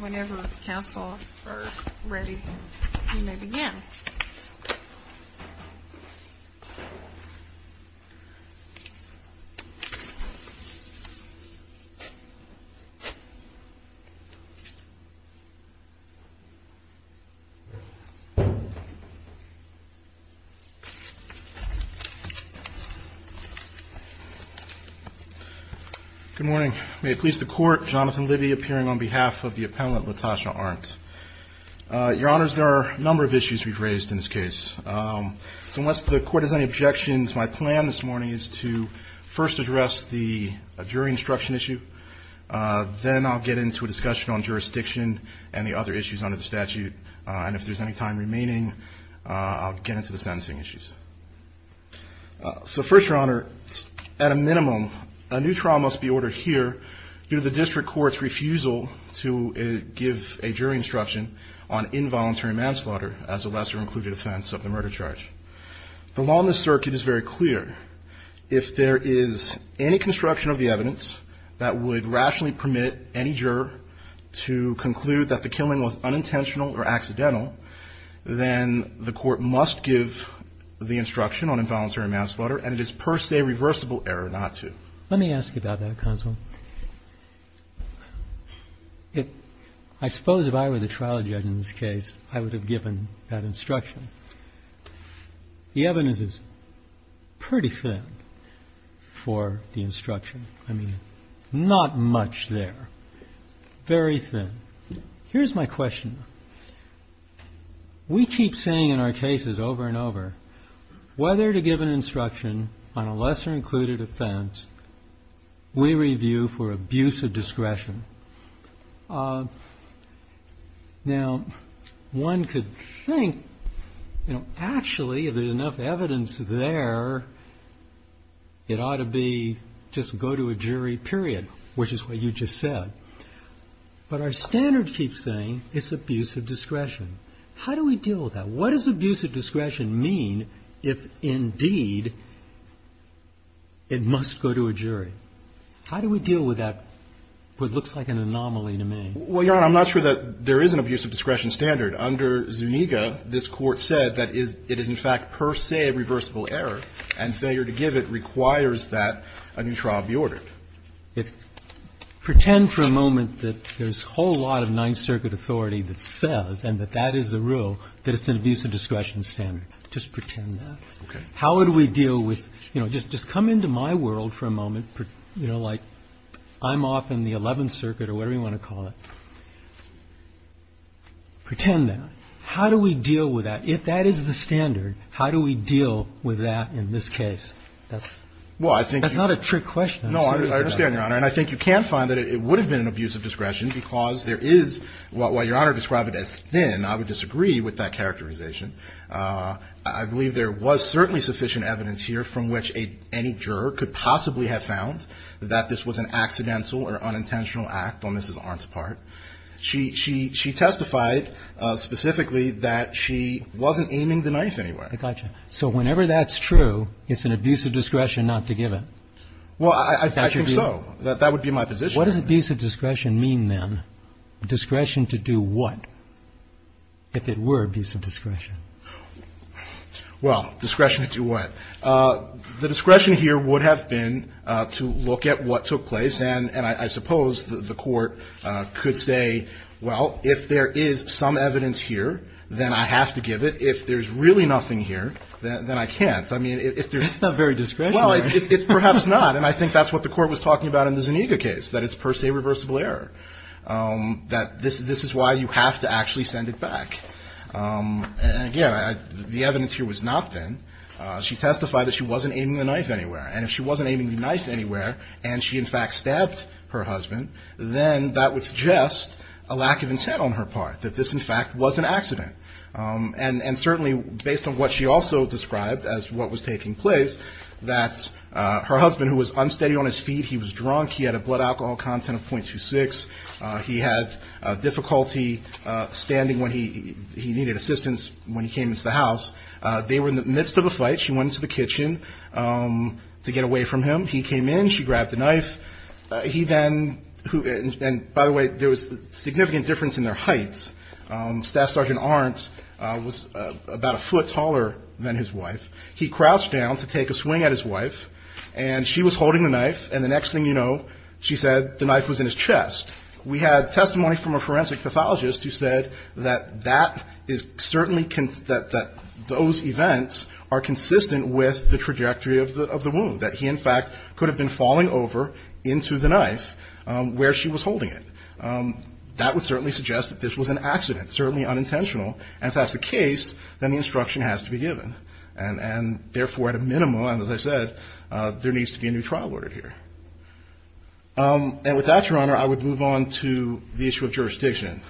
Whenever the council are ready, you may begin. Good morning. May it please the court, Jonathan Libby appearing on behalf of the appellant Latasha Arnt. Your honors, there are a number of issues we've raised in this case. So unless the court has any objections, my plan this morning is to first address the jury instruction issue. Then I'll get into a discussion on jurisdiction and the other issues under the statute. And if there's any time remaining, I'll get into the sentencing issues. So first, your honor, at a minimum, a new trial must be ordered here due to the district court's refusal to give a jury instruction on involuntary manslaughter as a lesser included offense of the murder charge. The law in the circuit is very clear. If there is any construction of the evidence that would rationally permit any juror to conclude that the killing was unintentional or accidental, then the court must give the instruction on involuntary manslaughter. And it is per se reversible error not to. Let me ask you about that, counsel. I suppose if I were the trial judge in this case, I would have given that instruction. The evidence is pretty thin for the instruction. I mean, not much there. Very thin. Here's my question. We keep saying in our cases over and over whether to give an instruction on a lesser included offense. We review for abuse of discretion. Now, one could think, you know, actually, if there's enough evidence there. It ought to be just go to a jury, period, which is what you just said. But our standard keeps saying it's abuse of discretion. How do we deal with that? What does abuse of discretion mean if, indeed, it must go to a jury? How do we deal with that, what looks like an anomaly to me? Well, Your Honor, I'm not sure that there is an abuse of discretion standard. Under Zuniga, this Court said that it is in fact per se reversible error, and failure to give it requires that a new trial be ordered. The other thing I would say is just pretend that that is the rule. If that is the standard, if you're going to deal with that, what's the standard? Pretend for a moment that there's a whole lot of Ninth Circuit authority that says and that that is the rule, that it's an abuse of discretion standard. Just pretend that. How would we deal with you know, just come into my world for a moment, you know, like I'm off in the Eleventh Circuit or whatever you want to call it. Pretend that. How do we deal with that? If that is the standard, how do we deal with that in this case? That's not a trick question. No, I understand, Your Honor. And I think you can find that it would have been an abuse of discretion because there is, while Your Honor described it as thin, I would disagree with that characterization. I believe there was certainly sufficient evidence here from which any juror could possibly have found that this was an accidental or unintentional act on Mrs. Arndt's part. She testified specifically that she wasn't aiming the knife anywhere. I got you. So whenever that's true, it's an abuse of discretion not to give it. Well, I think so. That would be my position. What does abuse of discretion mean, then? Discretion to do what? If it were abuse of discretion. Well, discretion to do what? The discretion here would have been to look at what took place. And I suppose the Court could say, well, if there is some evidence here, then I have to give it. If there's really nothing here, then I can't. It's not very discretionary. Well, it's perhaps not. And I think that's what the Court was talking about in the Zuniga case, that it's per se reversible error, that this is why you have to actually send it back. And, again, the evidence here was not thin. She testified that she wasn't aiming the knife anywhere. And if she wasn't aiming the knife anywhere and she, in fact, stabbed her husband, then that would suggest a lack of intent on her part, that this, in fact, was an accident. And certainly, based on what she also described as what was taking place, that her husband, who was unsteady on his feet, he was drunk, he had a blood alcohol content of 0.26, he had difficulty standing when he needed assistance when he came into the house. They were in the midst of a fight. She went into the kitchen to get away from him. He came in. She grabbed the knife. He then – and, by the way, there was a significant difference in their heights. Staff Sergeant Arendt was about a foot taller than his wife. He crouched down to take a swing at his wife, and she was holding the knife. And the next thing you know, she said the knife was in his chest. We had testimony from a forensic pathologist who said that that is certainly – that those events are consistent with the trajectory of the wound, that he, in fact, could have been falling over into the knife where she was holding it. That would certainly suggest that this was an accident, certainly unintentional. And if that's the case, then the instruction has to be given. And, therefore, at a minimum, as I said, there needs to be a new trial ordered here. And with that, Your Honor, I would move on to the issue of jurisdiction.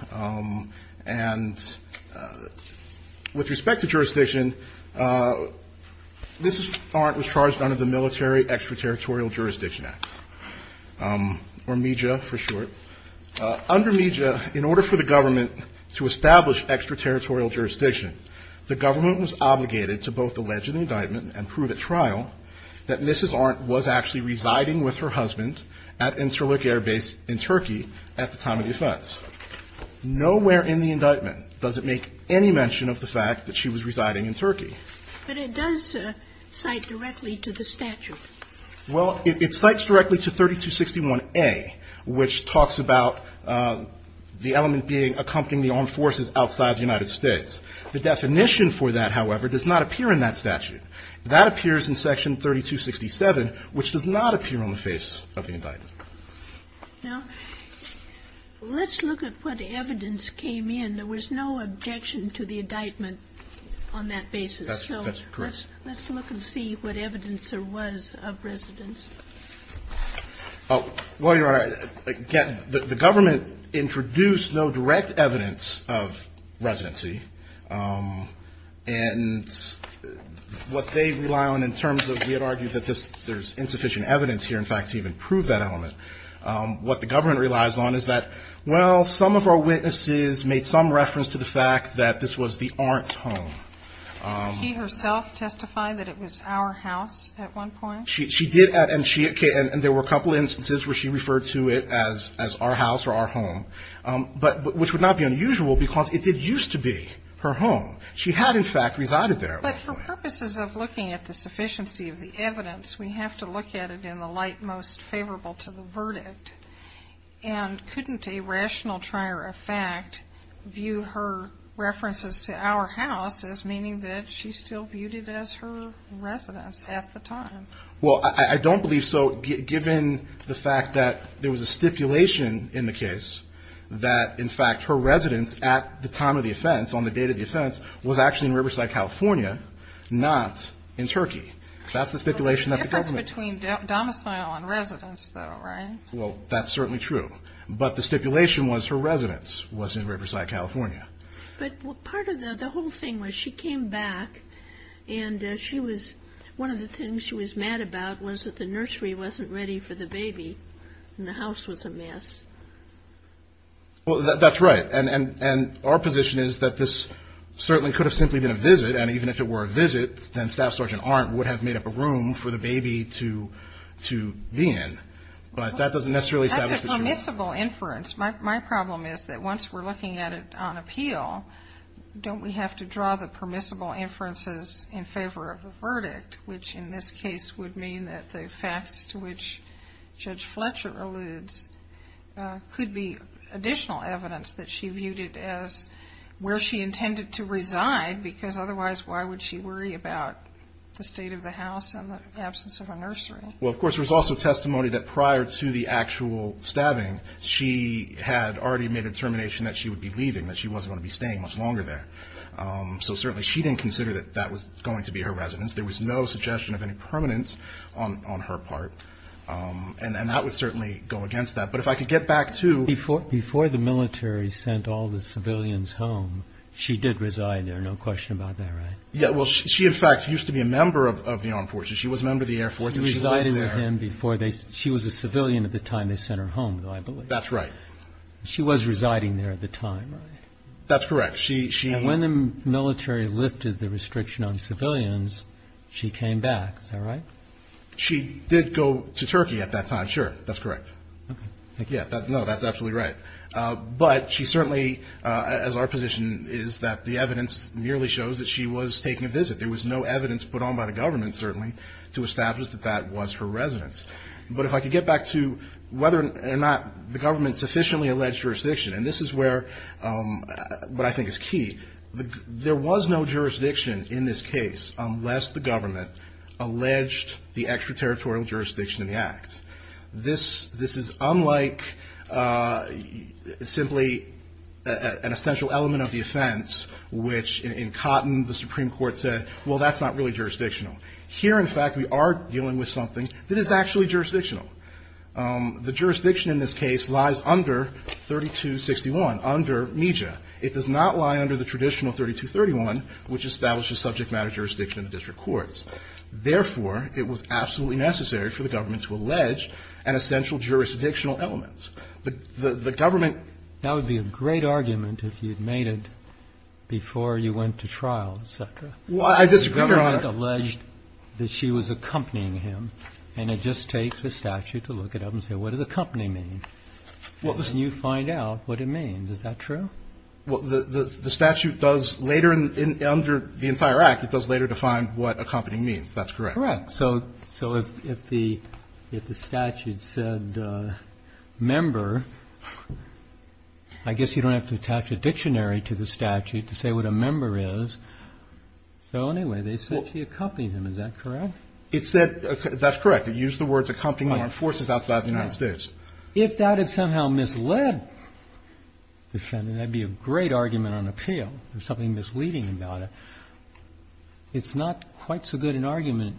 And with respect to jurisdiction, Mrs. Arendt was charged under the Military Extraterritorial Jurisdiction Act, or MEJA for short. Under MEJA, in order for the government to establish extraterritorial jurisdiction, the government was obligated to both allege an indictment and prove at trial that Mrs. Arendt was actually residing with her husband at Incirlik Air Base in Turkey at the time of the offense. Nowhere in the indictment does it make any mention of the fact that she was residing in Turkey. But it does cite directly to the statute. Well, it cites directly to 3261A, which talks about the element being accompanying the armed forces outside the United States. The definition for that, however, does not appear in that statute. That appears in Section 3267, which does not appear on the face of the indictment. Now, let's look at what evidence came in. There was no objection to the indictment on that basis. That's correct. So let's look and see what evidence there was of residence. Well, Your Honor, again, the government introduced no direct evidence of residency. And what they rely on in terms of we had argued that there's insufficient evidence here, in fact, to even prove that element. What the government relies on is that, well, some of our witnesses made some reference to the fact that this was the Arendt's home. Did she herself testify that it was our house at one point? She did. And there were a couple instances where she referred to it as our house or our home, which would not be unusual because it did used to be her home. She had, in fact, resided there at one point. But for purposes of looking at the sufficiency of the evidence, we have to look at it in the light most favorable to the verdict. And couldn't a rational trier of fact view her references to our house as meaning that she still viewed it as her residence at the time? Well, I don't believe so, given the fact that there was a stipulation in the case that, in fact, her residence at the time of the offense, on the date of the offense, was actually in Riverside, California, not in Turkey. That's the stipulation that the government – The difference between domicile and residence, though, right? Well, that's certainly true. But part of the whole thing was she came back and she was – one of the things she was mad about was that the nursery wasn't ready for the baby and the house was a mess. Well, that's right. And our position is that this certainly could have simply been a visit. And even if it were a visit, then Staff Sergeant Arndt would have made up a room for the baby to be in. But that doesn't necessarily – That's a permissible inference. My problem is that once we're looking at it on appeal, don't we have to draw the permissible inferences in favor of the verdict, which in this case would mean that the facts to which Judge Fletcher alludes could be additional evidence that she viewed it as where she intended to reside, because otherwise why would she worry about the state of the house and the absence of a nursery? Well, of course, there's also testimony that prior to the actual stabbing, she had already made a determination that she would be leaving, that she wasn't going to be staying much longer there. So certainly she didn't consider that that was going to be her residence. There was no suggestion of any permanence on her part. And that would certainly go against that. But if I could get back to – Before the military sent all the civilians home, she did reside there, no question about that, right? Yeah. Well, she, in fact, used to be a member of the Armed Forces. She was a member of the Air Force. She resided with him before they – she was a civilian at the time they sent her home, though, I believe. That's right. She was residing there at the time, right? That's correct. She – And when the military lifted the restriction on civilians, she came back. Is that right? She did go to Turkey at that time, sure. That's correct. Okay. Thank you. No, that's absolutely right. But she certainly, as our position is, that the evidence merely shows that she was taking a visit. There was no evidence put on by the government, certainly, to establish that that was her residence. But if I could get back to whether or not the government sufficiently alleged jurisdiction. And this is where – what I think is key. There was no jurisdiction in this case unless the government alleged the extraterritorial jurisdiction in the act. This is unlike simply an essential element of the offense, which in Cotton the Supreme Court said, well, that's not really jurisdictional. Here, in fact, we are dealing with something that is actually jurisdictional. The jurisdiction in this case lies under 3261, under MEJA. It does not lie under the traditional 3231, which establishes subject matter jurisdiction in the district courts. Therefore, it was absolutely necessary for the government to allege an essential jurisdictional element. The government. That would be a great argument if you had made it before you went to trial, et cetera. Well, I disagree, Your Honor. The government alleged that she was accompanying him, and it just takes a statute to look it up and say, what does accompanying mean? Well, listen. And you find out what it means. Is that true? Well, the statute does later under the entire act, it does later define what accompanying means. That's correct. Correct. So if the statute said member, I guess you don't have to attach a dictionary to the statute to say what a member is. So anyway, they said she accompanied him. Is that correct? It said that's correct. It used the words accompanying armed forces outside the United States. If that had somehow misled the defendant, that would be a great argument on appeal, something misleading about it. It's not quite so good an argument,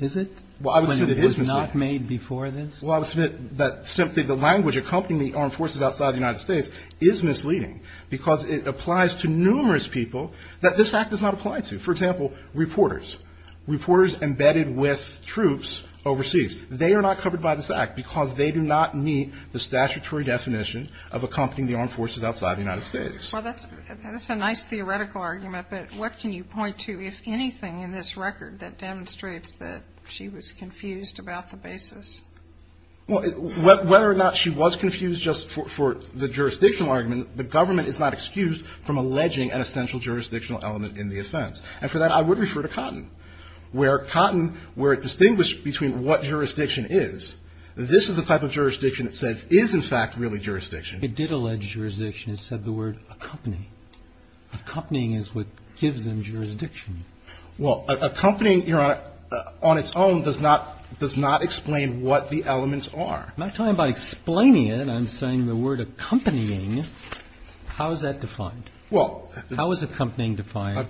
is it, when it was not made before this? Well, I would submit that simply the language accompanying the armed forces outside the United States is misleading because it applies to numerous people that this act does not apply to. For example, reporters. Reporters embedded with troops overseas. They are not covered by this act because they do not meet the statutory definition of accompanying the armed forces outside the United States. Well, that's a nice theoretical argument. But what can you point to, if anything, in this record that demonstrates that she was confused about the basis? Well, whether or not she was confused just for the jurisdictional argument, the government is not excused from alleging an essential jurisdictional element in the offense. And for that, I would refer to Cotton, where Cotton, where it distinguished between what jurisdiction is, this is the type of jurisdiction that says is, in fact, really jurisdiction. It did allege jurisdiction. It said the word accompanying. Accompanying is what gives them jurisdiction. Well, accompanying, Your Honor, on its own does not explain what the elements are. I'm not talking about explaining it. I'm saying the word accompanying, how is that defined? How is accompanying defined?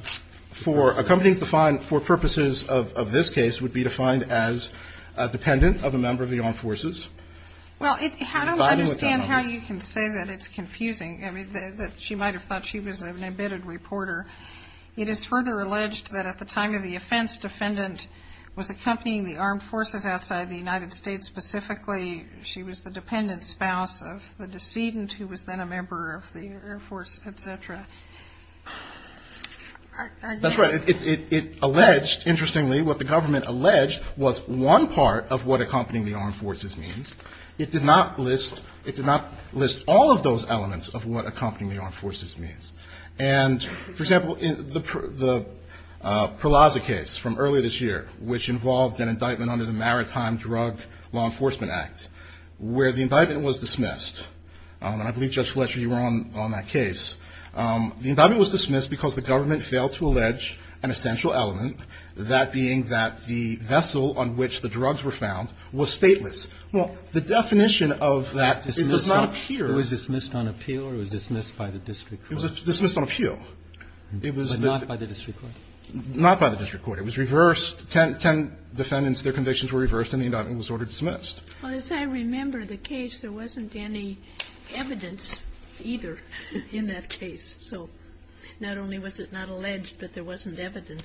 Accompanying for purposes of this case would be defined as dependent of a member of the armed forces. Well, how do I understand how you can say that it's confusing? I mean, that she might have thought she was an embedded reporter. It is further alleged that at the time of the offense, defendant was accompanying the armed forces outside the United States. Specifically, she was the dependent spouse of the decedent, who was then a member of the Air Force, et cetera. That's right. It alleged, interestingly, what the government alleged was one part of what accompanying the armed forces means. It did not list all of those elements of what accompanying the armed forces means. And, for example, the Perlaza case from earlier this year, which involved an indictment under the Maritime Drug Law Enforcement Act, where the indictment was dismissed, and I believe, Judge Fletcher, you were on that case. The indictment was dismissed because the government failed to allege an essential element, that being that the vessel on which the drugs were found was stateless. Well, the definition of that, it does not appear. It was dismissed on appeal, or it was dismissed by the district court? It was dismissed on appeal. But not by the district court? Not by the district court. It was reversed. Ten defendants, their convictions were reversed, and the indictment was ordered dismissed. Well, as I remember the case, there wasn't any evidence either in that case. So not only was it not alleged, but there wasn't evidence.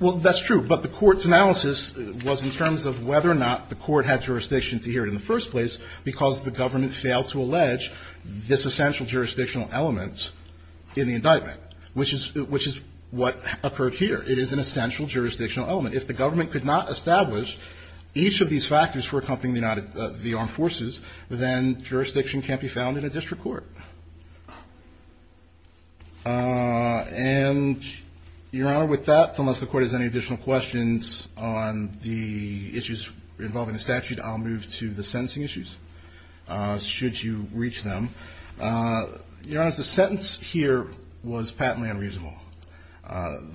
Well, that's true. But the Court's analysis was in terms of whether or not the Court had jurisdiction to hear it in the first place because the government failed to allege this essential jurisdictional element in the indictment, which is what occurred here. It is an essential jurisdictional element. If the government could not establish each of these factors for accompanying the armed forces, then jurisdiction can't be found in a district court. And, Your Honor, with that, unless the Court has any additional questions on the issues involving the statute, I'll move to the sentencing issues, should you reach them. Your Honor, the sentence here was patently unreasonable.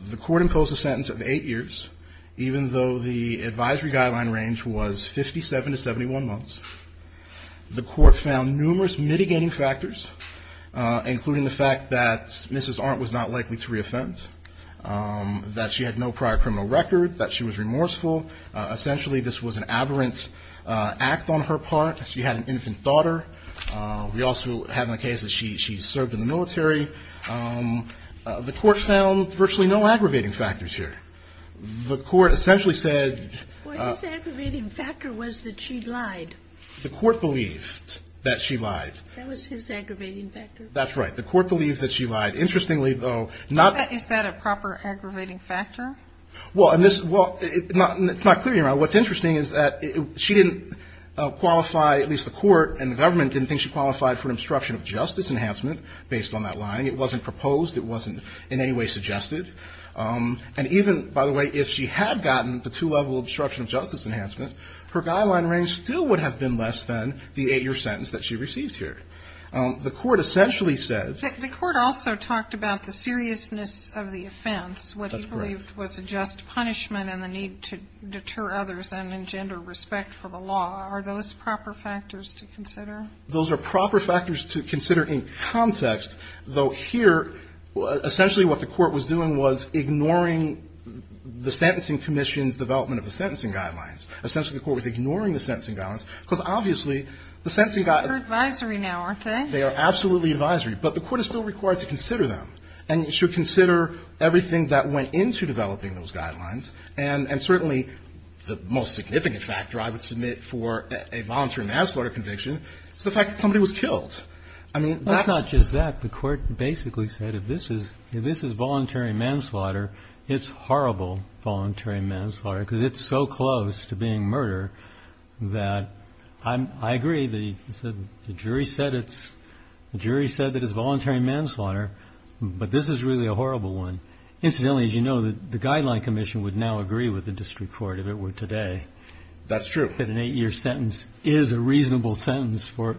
The Court imposed a sentence of eight years, even though the advisory guideline range was 57 to 71 months. The Court found numerous mitigating factors, including the fact that Mrs. Arndt was not likely to reoffend, that she had no prior criminal record, that she was remorseful. Essentially, this was an aberrant act on her part. She had an infant daughter. We also have in the case that she served in the military. The Court found virtually no aggravating factors here. The Court essentially said that she lied. The Court believed that she lied. That was his aggravating factor? That's right. The Court believed that she lied. Interestingly, though, not the Is that a proper aggravating factor? Well, it's not clear, Your Honor. The Court didn't think she qualified for an obstruction of justice enhancement, based on that lying. It wasn't proposed. It wasn't in any way suggested. And even, by the way, if she had gotten the two-level obstruction of justice enhancement, her guideline range still would have been less than the eight-year sentence that she received here. The Court essentially said That the Court also talked about the seriousness of the offense. That's correct. What he believed was a just punishment and the need to deter others and engender respect for the law. Are those proper factors to consider? Those are proper factors to consider in context, though, here, essentially what the Court was doing was ignoring the Sentencing Commission's development of the sentencing guidelines. Essentially, the Court was ignoring the sentencing guidelines because, obviously, the sentencing guidelines. They're advisory now, aren't they? They are absolutely advisory. But the Court is still required to consider them and should consider everything that went into developing those guidelines. And certainly the most significant factor I would submit for a voluntary manslaughter conviction is the fact that somebody was killed. I mean, that's not just that. The Court basically said if this is voluntary manslaughter, it's horrible voluntary manslaughter because it's so close to being murder that I agree. The jury said that it's voluntary manslaughter, but this is really a horrible one. Incidentally, as you know, the Guideline Commission would now agree with the district court if it were today. That's true. That an eight-year sentence is a reasonable sentence for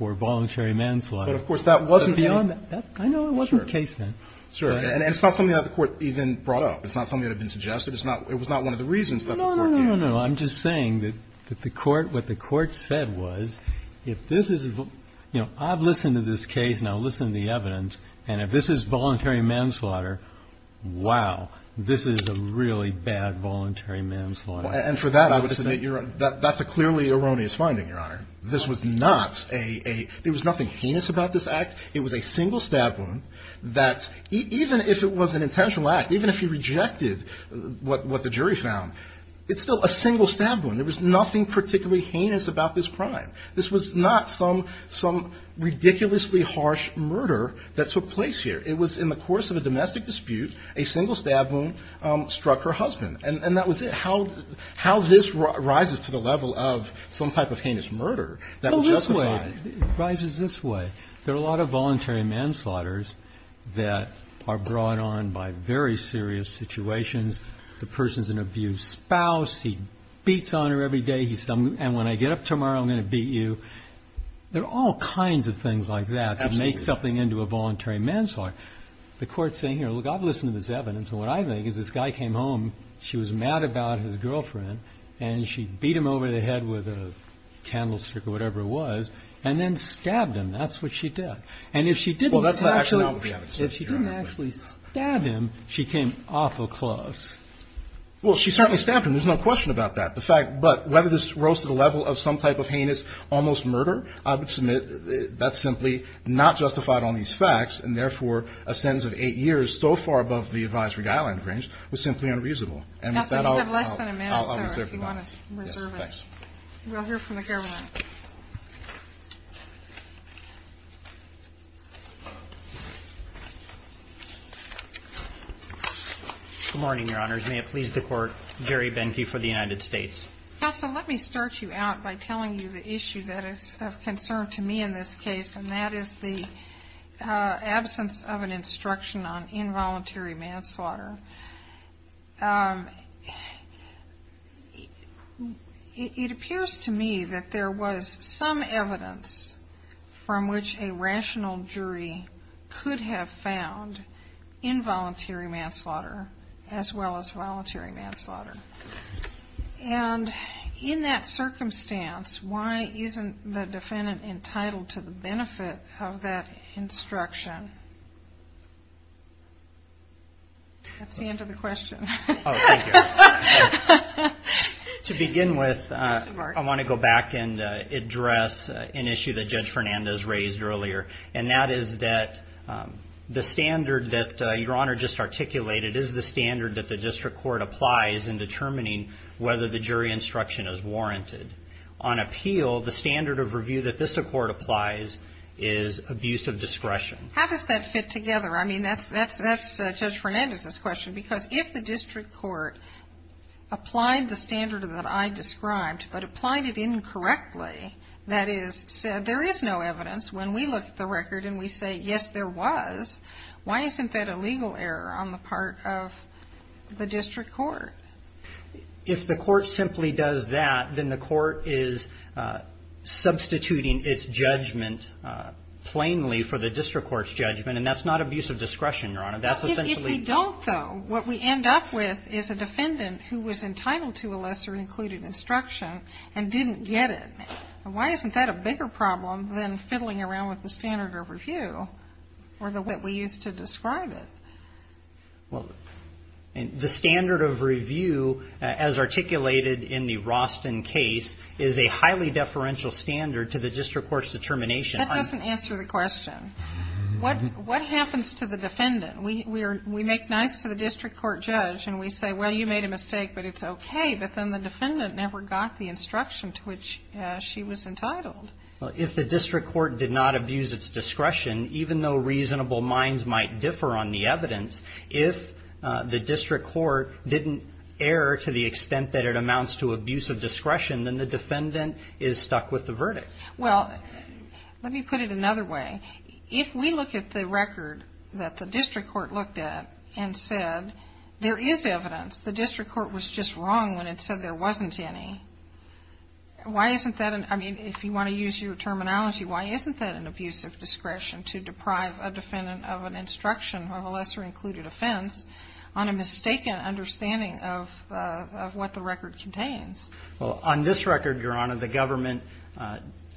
voluntary manslaughter. But, of course, that wasn't the case. I know it wasn't the case then. And it's not something that the Court even brought up. It's not something that had been suggested. It was not one of the reasons that the Court gave. No, no, no, no, no. I'm just saying that what the Court said was if this is the, you know, I've listened to this case and I've listened to the evidence, and if this is voluntary manslaughter, wow, this is a really bad voluntary manslaughter. And for that, I would submit that's a clearly erroneous finding, Your Honor. This was not a, there was nothing heinous about this act. It was a single stab wound that even if it was an intentional act, even if you rejected what the jury found, it's still a single stab wound. There was nothing particularly heinous about this crime. This was not some ridiculously harsh murder that took place here. It was in the course of a domestic dispute, a single stab wound struck her husband. And that was it. How this rises to the level of some type of heinous murder that would justify it. Well, this way, it rises this way. There are a lot of voluntary manslaughter that are brought on by very serious situations. The person's an abused spouse. He beats on her every day. And when I get up tomorrow, I'm going to beat you. There are all kinds of things like that that make something into a voluntary manslaughter. The court's saying here, look, I've listened to this evidence, and what I think is this guy came home, she was mad about his girlfriend, and she beat him over the head with a candlestick or whatever it was, and then stabbed him. That's what she did. And if she didn't actually stab him, she came awful close. Well, she certainly stabbed him. There's no question about that. But whether this rose to the level of some type of heinous almost murder, I would submit that's simply not justified on these facts, and therefore a sentence of eight years so far above the advisory guidelines range was simply unreasonable. And with that, I'll reserve the moment. We'll hear from the government. Good morning, Your Honors. May it please the Court, Jerry Benke for the United States. Counsel, let me start you out by telling you the issue that is of concern to me in this case, and that is the absence of an instruction on involuntary manslaughter. It appears to me that there was some evidence from which a rational jury could have found involuntary manslaughter as well as voluntary manslaughter. And in that circumstance, why isn't the defendant entitled to the benefit of that instruction? That's the end of the question. Oh, thank you. To begin with, I want to go back and address an issue that Judge Fernandez raised earlier, and that is that the standard that Your Honor just articulated is the standard that the district court applies in determining whether the jury instruction is warranted. On appeal, the standard of review that this court applies is abuse of discretion. How does that fit together? I mean, that's Judge Fernandez's question, because if the district court applied the standard that I described but applied it incorrectly, that is, said there is no evidence, when we look at the record and we say, yes, there was, why isn't that a legal error on the part of the district court? If the court simply does that, then the court is substituting its judgment plainly for the district court's judgment, and that's not abuse of discretion, Your Honor. If we don't, though, what we end up with is a defendant who was entitled to a lesser included instruction and didn't get it, why isn't that a bigger problem than fiddling around with the standard of review or the way that we used to describe it? Well, the standard of review, as articulated in the Roston case, is a highly deferential standard to the district court's determination. That doesn't answer the question. What happens to the defendant? We make nice to the district court judge, and we say, well, you made a mistake, but it's okay, but then the defendant never got the instruction to which she was entitled. Well, if the district court did not abuse its discretion, even though reasonable minds might differ on the evidence, if the district court didn't err to the extent that it amounts to abuse of discretion, then the defendant is stuck with the verdict. Well, let me put it another way. If we look at the record that the district court looked at and said there is evidence, the district court was just wrong when it said there wasn't any. Why isn't that an ‑‑ I mean, if you want to use your terminology, why isn't that an abuse of discretion to deprive a defendant of an instruction of a lesser included offense on a mistaken understanding of what the record contains? Well, on this record, Your Honor, the government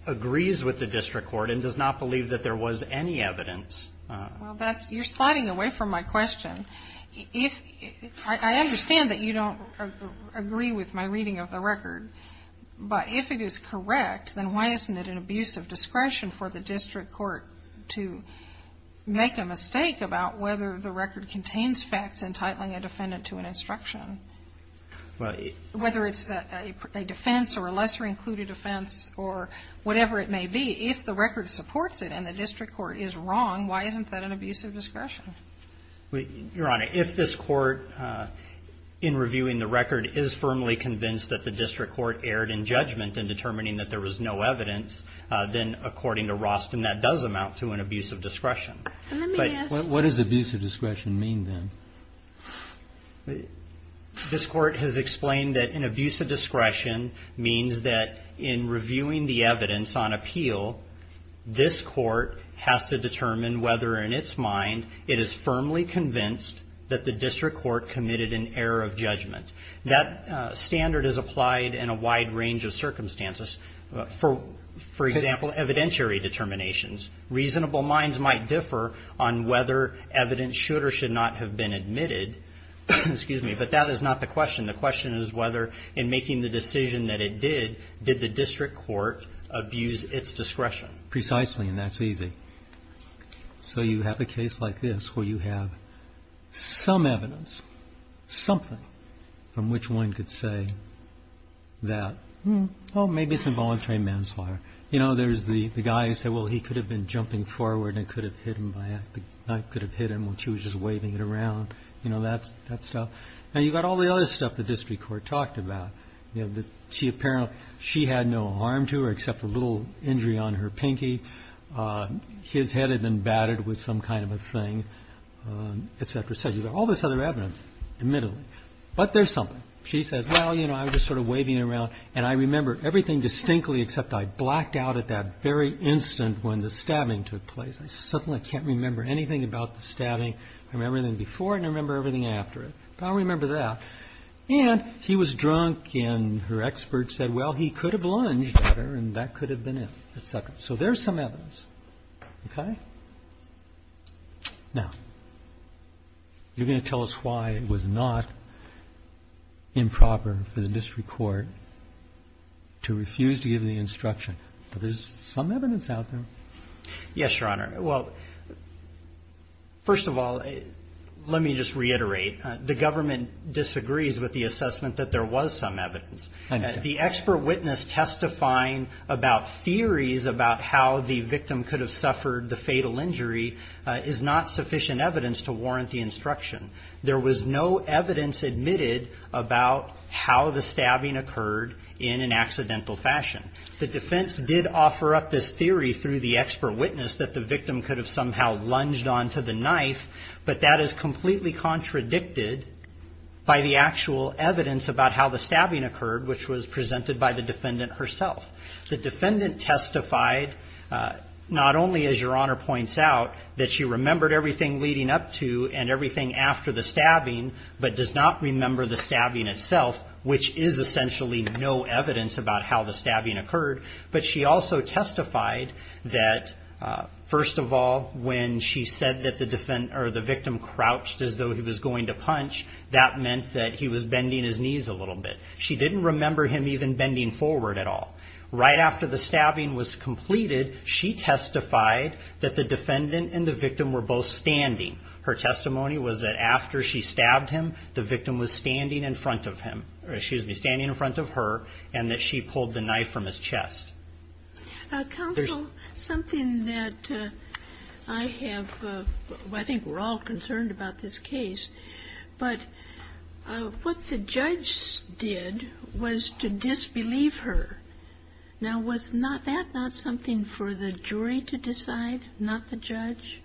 agrees with the district court and does not believe that there was any evidence. Well, you're sliding away from my question. I understand that you don't agree with my reading of the record, but if it is correct, then why isn't it an abuse of discretion for the district court to make a mistake about whether the record contains facts entitling a defendant to an instruction? Whether it's a defense or a lesser included offense or whatever it may be, if the record supports it and the district court is wrong, why isn't that an abuse of discretion? Your Honor, if this court, in reviewing the record, is firmly convinced that the district court erred in judgment in determining that there was no evidence, then, according to Roston, that does amount to an abuse of discretion. Let me ask you. What does abuse of discretion mean, then? This court has explained that an abuse of discretion means that, in reviewing the evidence on appeal, this court has to determine whether, in its mind, it is firmly convinced that the district court committed an error of judgment. That standard is applied in a wide range of circumstances. For example, evidentiary determinations. Reasonable minds might differ on whether evidence should or should not have been admitted, but that is not the question. The question is whether, in making the decision that it did, did the district court abuse its discretion. Precisely, and that's easy. So you have a case like this where you have some evidence, something from which one could say that, oh, maybe it's involuntary manslaughter. You know, there's the guy who said, well, he could have been jumping forward and could have hit him by the knife, could have hit him when she was just waving it around. You know, that stuff. Now, you've got all the other stuff the district court talked about. You know, she apparently, she had no harm to her except a little injury on her pinky. His head had been battered with some kind of a thing, et cetera, et cetera. You've got all this other evidence, admittedly. But there's something. She says, well, you know, I was just sort of waving it around, and I remember everything distinctly except I blacked out at that very instant when the stabbing took place. I suddenly can't remember anything about the stabbing. I remember everything before it and I remember everything after it. I don't remember that. And he was drunk and her expert said, well, he could have lunged at her and that could have been it, et cetera. So there's some evidence. Okay? Now, you're going to tell us why it was not improper for the district court to refuse to give the instruction. But there's some evidence out there. Yes, Your Honor. Well, first of all, let me just reiterate. The government disagrees with the assessment that there was some evidence. The expert witness testifying about theories about how the victim could have suffered the fatal injury is not sufficient evidence to warrant the instruction. There was no evidence admitted about how the stabbing occurred in an accidental fashion. The defense did offer up this theory through the expert witness that the victim could have somehow lunged onto the knife, but that is completely contradicted by the actual evidence about how the stabbing occurred, which was presented by the defendant herself. The defendant testified not only, as Your Honor points out, that she remembered everything leading up to and everything after the stabbing, but does not remember the stabbing itself, which is essentially no evidence about how the stabbing occurred. But she also testified that, first of all, when she said that the victim crouched as though he was going to punch, that meant that he was bending his knees a little bit. She didn't remember him even bending forward at all. Right after the stabbing was completed, she testified that the defendant and the victim were both standing. Her testimony was that after she stabbed him, the victim was standing in front of him or excuse me, standing in front of her, and that she pulled the knife from his chest. Counsel, something that I have, I think we're all concerned about this case, but what the judge did was to disbelieve her. Now, was that not something for the jury to decide, not the judge?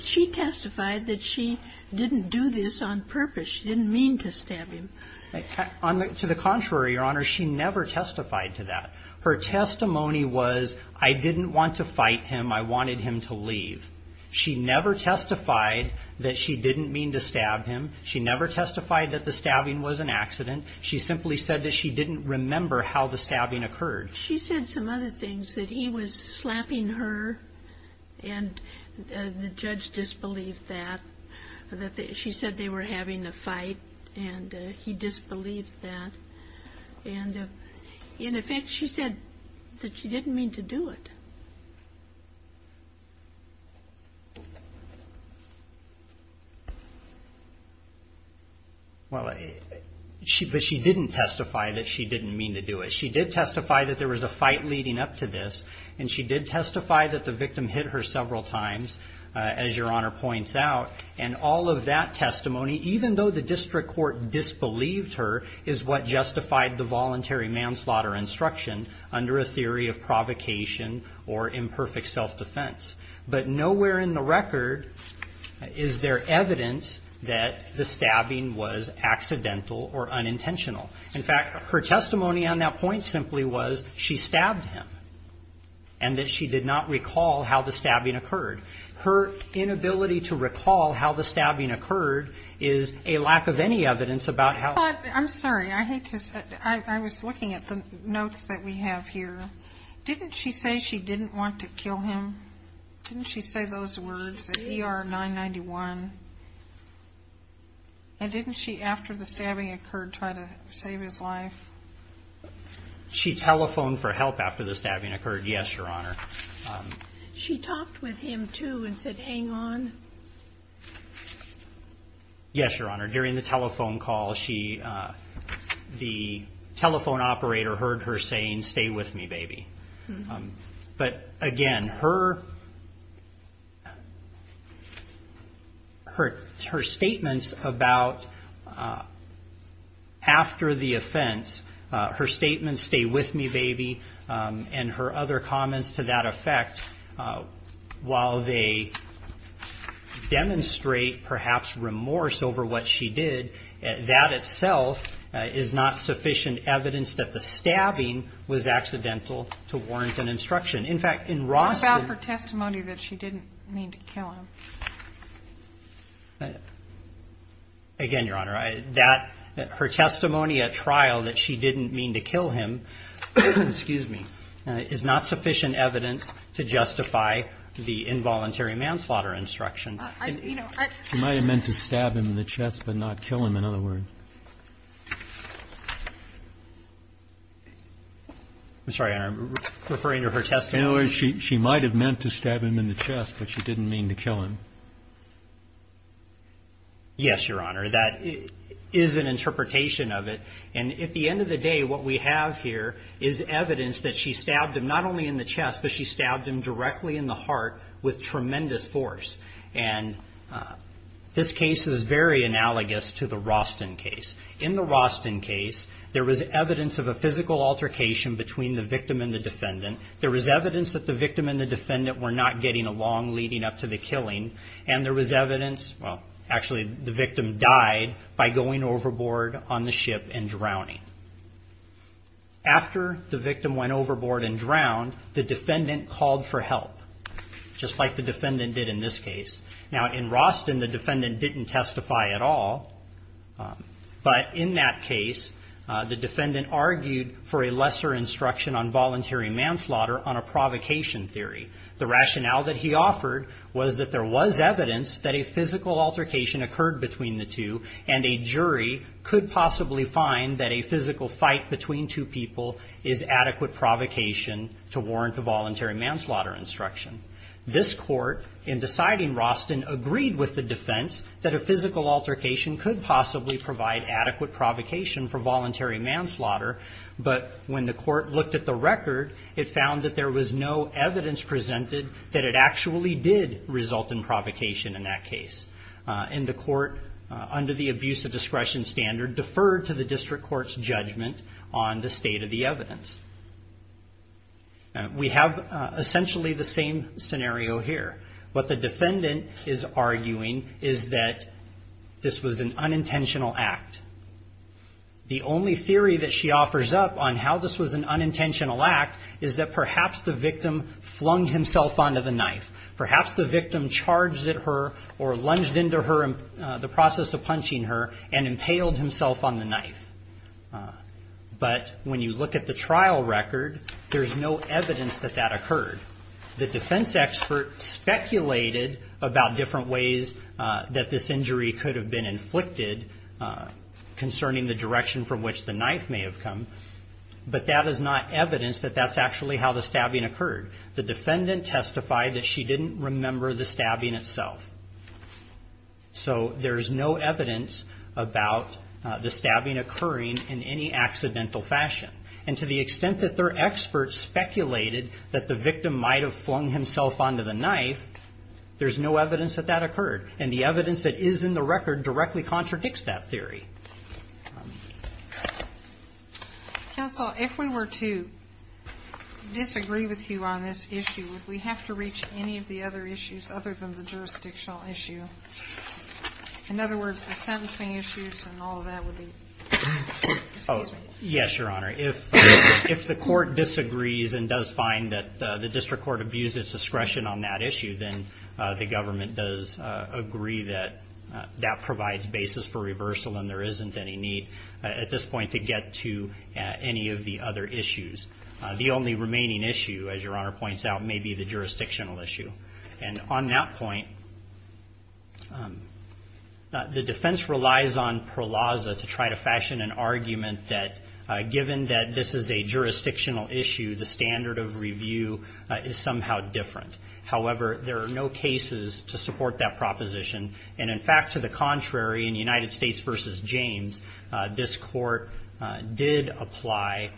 She testified that she didn't do this on purpose. She didn't mean to stab him. To the contrary, Your Honor, she never testified to that. Her testimony was, I didn't want to fight him. I wanted him to leave. She never testified that she didn't mean to stab him. She never testified that the stabbing was an accident. She simply said that she didn't remember how the stabbing occurred. She said some other things, that he was slapping her, and the judge disbelieved that. She said they were having a fight, and he disbelieved that. And in effect, she said that she didn't mean to do it. Well, but she didn't testify that she didn't mean to do it. She did testify that there was a fight leading up to this, and she did testify that the victim hit her several times, as Your Honor points out. And all of that testimony, even though the district court disbelieved her, is what justified the voluntary manslaughter instruction under a theory of provocation or imperfect self-defense. But nowhere in the record is there evidence that the stabbing was accidental or unintentional. In fact, her testimony on that point simply was she stabbed him, and that she did not recall how the stabbing occurred. Her inability to recall how the stabbing occurred is a lack of any evidence about how. I'm sorry. I hate to say it. I was looking at the notes that we have here. Didn't she say she didn't want to kill him? Didn't she say those words at ER 991? And didn't she, after the stabbing occurred, try to save his life? She telephoned for help after the stabbing occurred, yes, Your Honor. She talked with him, too, and said, hang on? Yes, Your Honor. During the telephone call, the telephone operator heard her saying, stay with me, baby. But, again, her statements about after the offense, her statements, stay with me, baby, and her other comments to that effect, while they demonstrate perhaps remorse over what she did, that itself is not sufficient evidence that the stabbing was accidental to warrant an instruction. In fact, in Ross's ---- What about her testimony that she didn't mean to kill him? Again, Your Honor, her testimony at trial that she didn't mean to kill him, excuse me, is not sufficient evidence to justify the involuntary manslaughter instruction. She might have meant to stab him in the chest, but not kill him, in other words. I'm sorry, Your Honor, I'm referring to her testimony. In other words, she might have meant to stab him in the chest, but she didn't mean to kill him. Yes, Your Honor, that is an interpretation of it. And at the end of the day, what we have here is evidence that she stabbed him not only in the chest, but she stabbed him directly in the heart with tremendous force. And this case is very analogous to the Roston case. In the Roston case, there was evidence of a physical altercation between the victim and the defendant. There was evidence that the victim and the defendant were not getting along leading up to the killing, and there was evidence, well, actually the victim died by going overboard on the ship and drowning. After the victim went overboard and drowned, the defendant called for help, just like the defendant did in this case. Now, in Roston, the defendant didn't testify at all, but in that case, the defendant argued for a lesser instruction on voluntary manslaughter on a provocation theory. The rationale that he offered was that there was evidence that a physical altercation occurred between the two, and a jury could possibly find that a physical fight between two people is adequate provocation to warrant a voluntary manslaughter instruction. This court, in deciding Roston, agreed with the defense that a physical altercation could possibly provide adequate provocation for voluntary manslaughter, but when the court looked at the record, it found that there was no evidence presented that it actually did result in provocation in that case. And the court, under the abuse of discretion standard, deferred to the district court's judgment on the state of the evidence. We have essentially the same scenario here. What the defendant is arguing is that this was an unintentional act. The only theory that she offers up on how this was an unintentional act is that perhaps the victim flung himself onto the knife. Perhaps the victim charged at her or lunged into her, the process of punching her, and impaled himself on the knife. But when you look at the trial record, there's no evidence that that occurred. The defense expert speculated about different ways that this injury could have been inflicted concerning the direction from which the knife may have come, but that is not evidence that that's actually how the stabbing occurred. The defendant testified that she didn't remember the stabbing itself. So there's no evidence about the stabbing occurring in any accidental fashion. And to the extent that their expert speculated that the victim might have flung himself onto the knife, there's no evidence that that occurred. And the evidence that is in the record directly contradicts that theory. Counsel, if we were to disagree with you on this issue, would we have to reach any of the other issues other than the jurisdictional issue? In other words, the sentencing issues and all of that would be? Yes, Your Honor. If the court disagrees and does find that the district court abused its discretion on that issue, then the government does agree that that provides basis for reversal and there isn't any need at this point to get to any of the other issues. The only remaining issue, as Your Honor points out, may be the jurisdictional issue. And on that point, the defense relies on Perlazza to try to fashion an argument that, given that this is a jurisdictional issue, the standard of review is somehow different. However, there are no cases to support that proposition. And, in fact, to the contrary, in United States v. James, this court did apply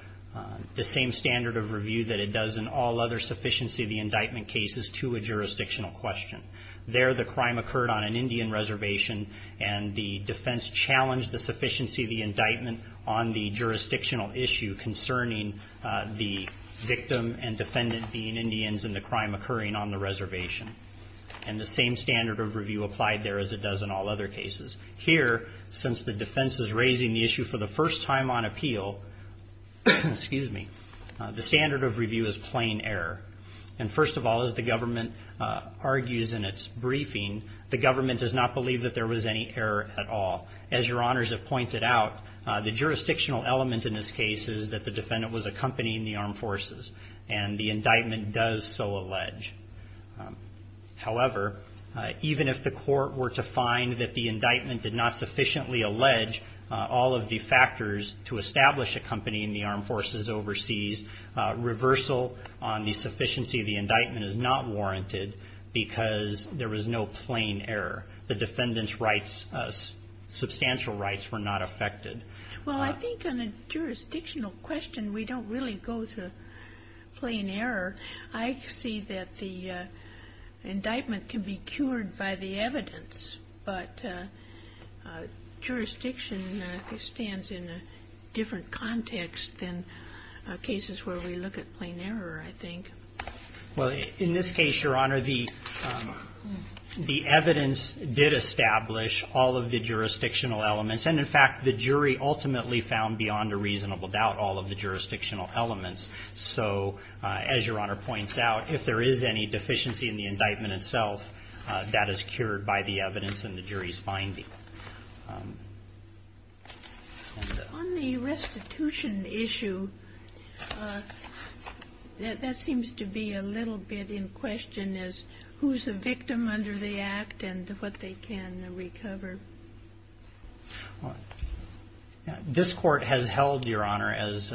the same standard of review that it does in all other sufficiency of the indictment cases to a jurisdictional question. There, the crime occurred on an Indian reservation, and the defense challenged the sufficiency of the indictment on the jurisdictional issue concerning the victim and defendant being Indians and the crime occurring on the reservation. And the same standard of review applied there as it does in all other cases. Here, since the defense is raising the issue for the first time on appeal, the standard of review is plain error. And, first of all, as the government argues in its briefing, the government does not believe that there was any error at all. As Your Honors have pointed out, the jurisdictional element in this case is that the defendant was accompanying the armed forces, and the indictment does so allege. However, even if the court were to find that the indictment did not sufficiently allege all of the factors to establish accompanying the armed forces overseas, reversal on the sufficiency of the indictment is not warranted because there was no plain error. The defendant's rights, substantial rights, were not affected. Well, I think on a jurisdictional question, we don't really go to plain error. I see that the indictment can be cured by the evidence, but jurisdiction stands in a different context than cases where we look at plain error, I think. Well, in this case, Your Honor, the evidence did establish all of the jurisdictional elements. And, in fact, the jury ultimately found beyond a reasonable doubt all of the jurisdictional elements. So, as Your Honor points out, if there is any deficiency in the indictment itself, that is cured by the evidence and the jury's finding. On the restitution issue, that seems to be a little bit in question, as who's the victim under the Act and what they can recover. This Court has held, Your Honor, as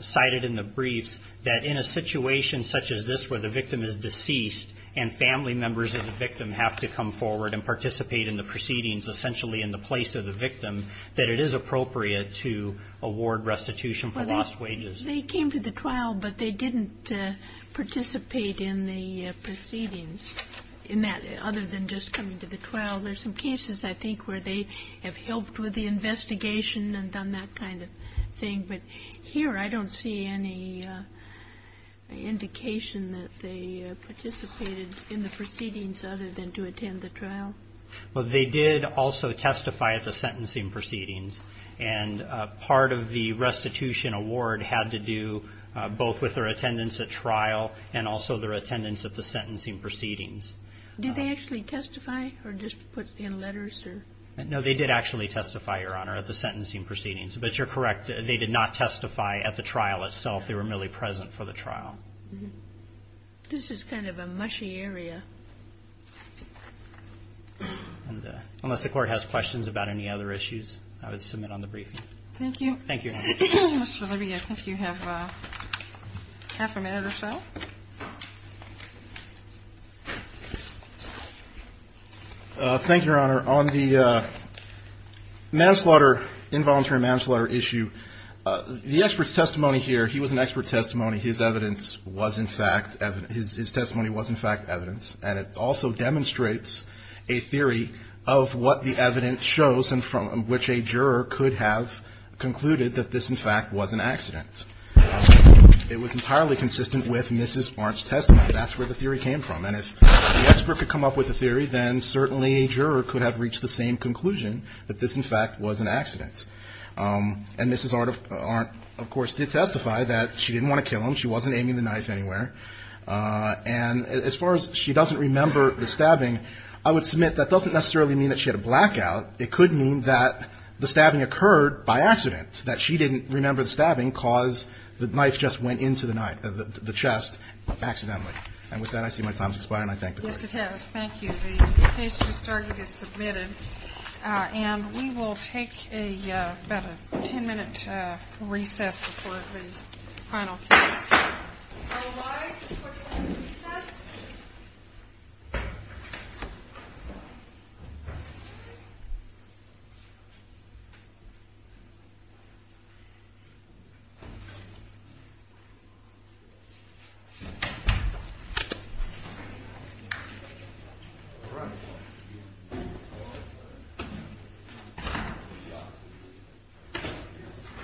cited in the briefs, that in a situation such as this where the victim is deceased and family members of the victim have to come forward and participate in the proceedings, essentially in the place of the victim, that it is appropriate to award restitution for lost wages. Well, they came to the trial, but they didn't participate in the proceedings, in that, other than just coming to the trial. There's some cases, I think, where they have helped with the investigation and done that kind of thing. But here I don't see any indication that they participated in the proceedings other than to attend the trial. Well, they did also testify at the sentencing proceedings. And part of the restitution award had to do both with their attendance at trial and also their attendance at the sentencing proceedings. Did they actually testify or just put in letters? No, they did actually testify, Your Honor, at the sentencing proceedings. But you're correct. They did not testify at the trial itself. They were merely present for the trial. This is kind of a mushy area. Unless the Court has questions about any other issues, I would submit on the briefing. Thank you. Thank you, Your Honor. Mr. Libby, I think you have half a minute or so. Thank you, Your Honor. On the involuntary manslaughter issue, the expert's testimony here, he was an expert testimony. His testimony was, in fact, evidence. And it also demonstrates a theory of what the evidence shows from which a juror could have concluded that this, in fact, was an accident. It was entirely consistent with Mrs. Arndt's testimony. That's where the theory came from. And if the expert could come up with a theory, then certainly a juror could have reached the same conclusion, that this, in fact, was an accident. And Mrs. Arndt, of course, did testify that she didn't want to kill him. She wasn't aiming the knife anywhere. And as far as she doesn't remember the stabbing, I would submit that doesn't necessarily mean that she had a blackout. It could mean that the stabbing occurred by accident, that she didn't remember the stabbing because the knife just went into the chest accidentally. And with that, I see my time has expired, and I thank the Court. Yes, it has. Thank you. The case is submitted. And we will take about a 10-minute recess before the final case. All rise for the final recess.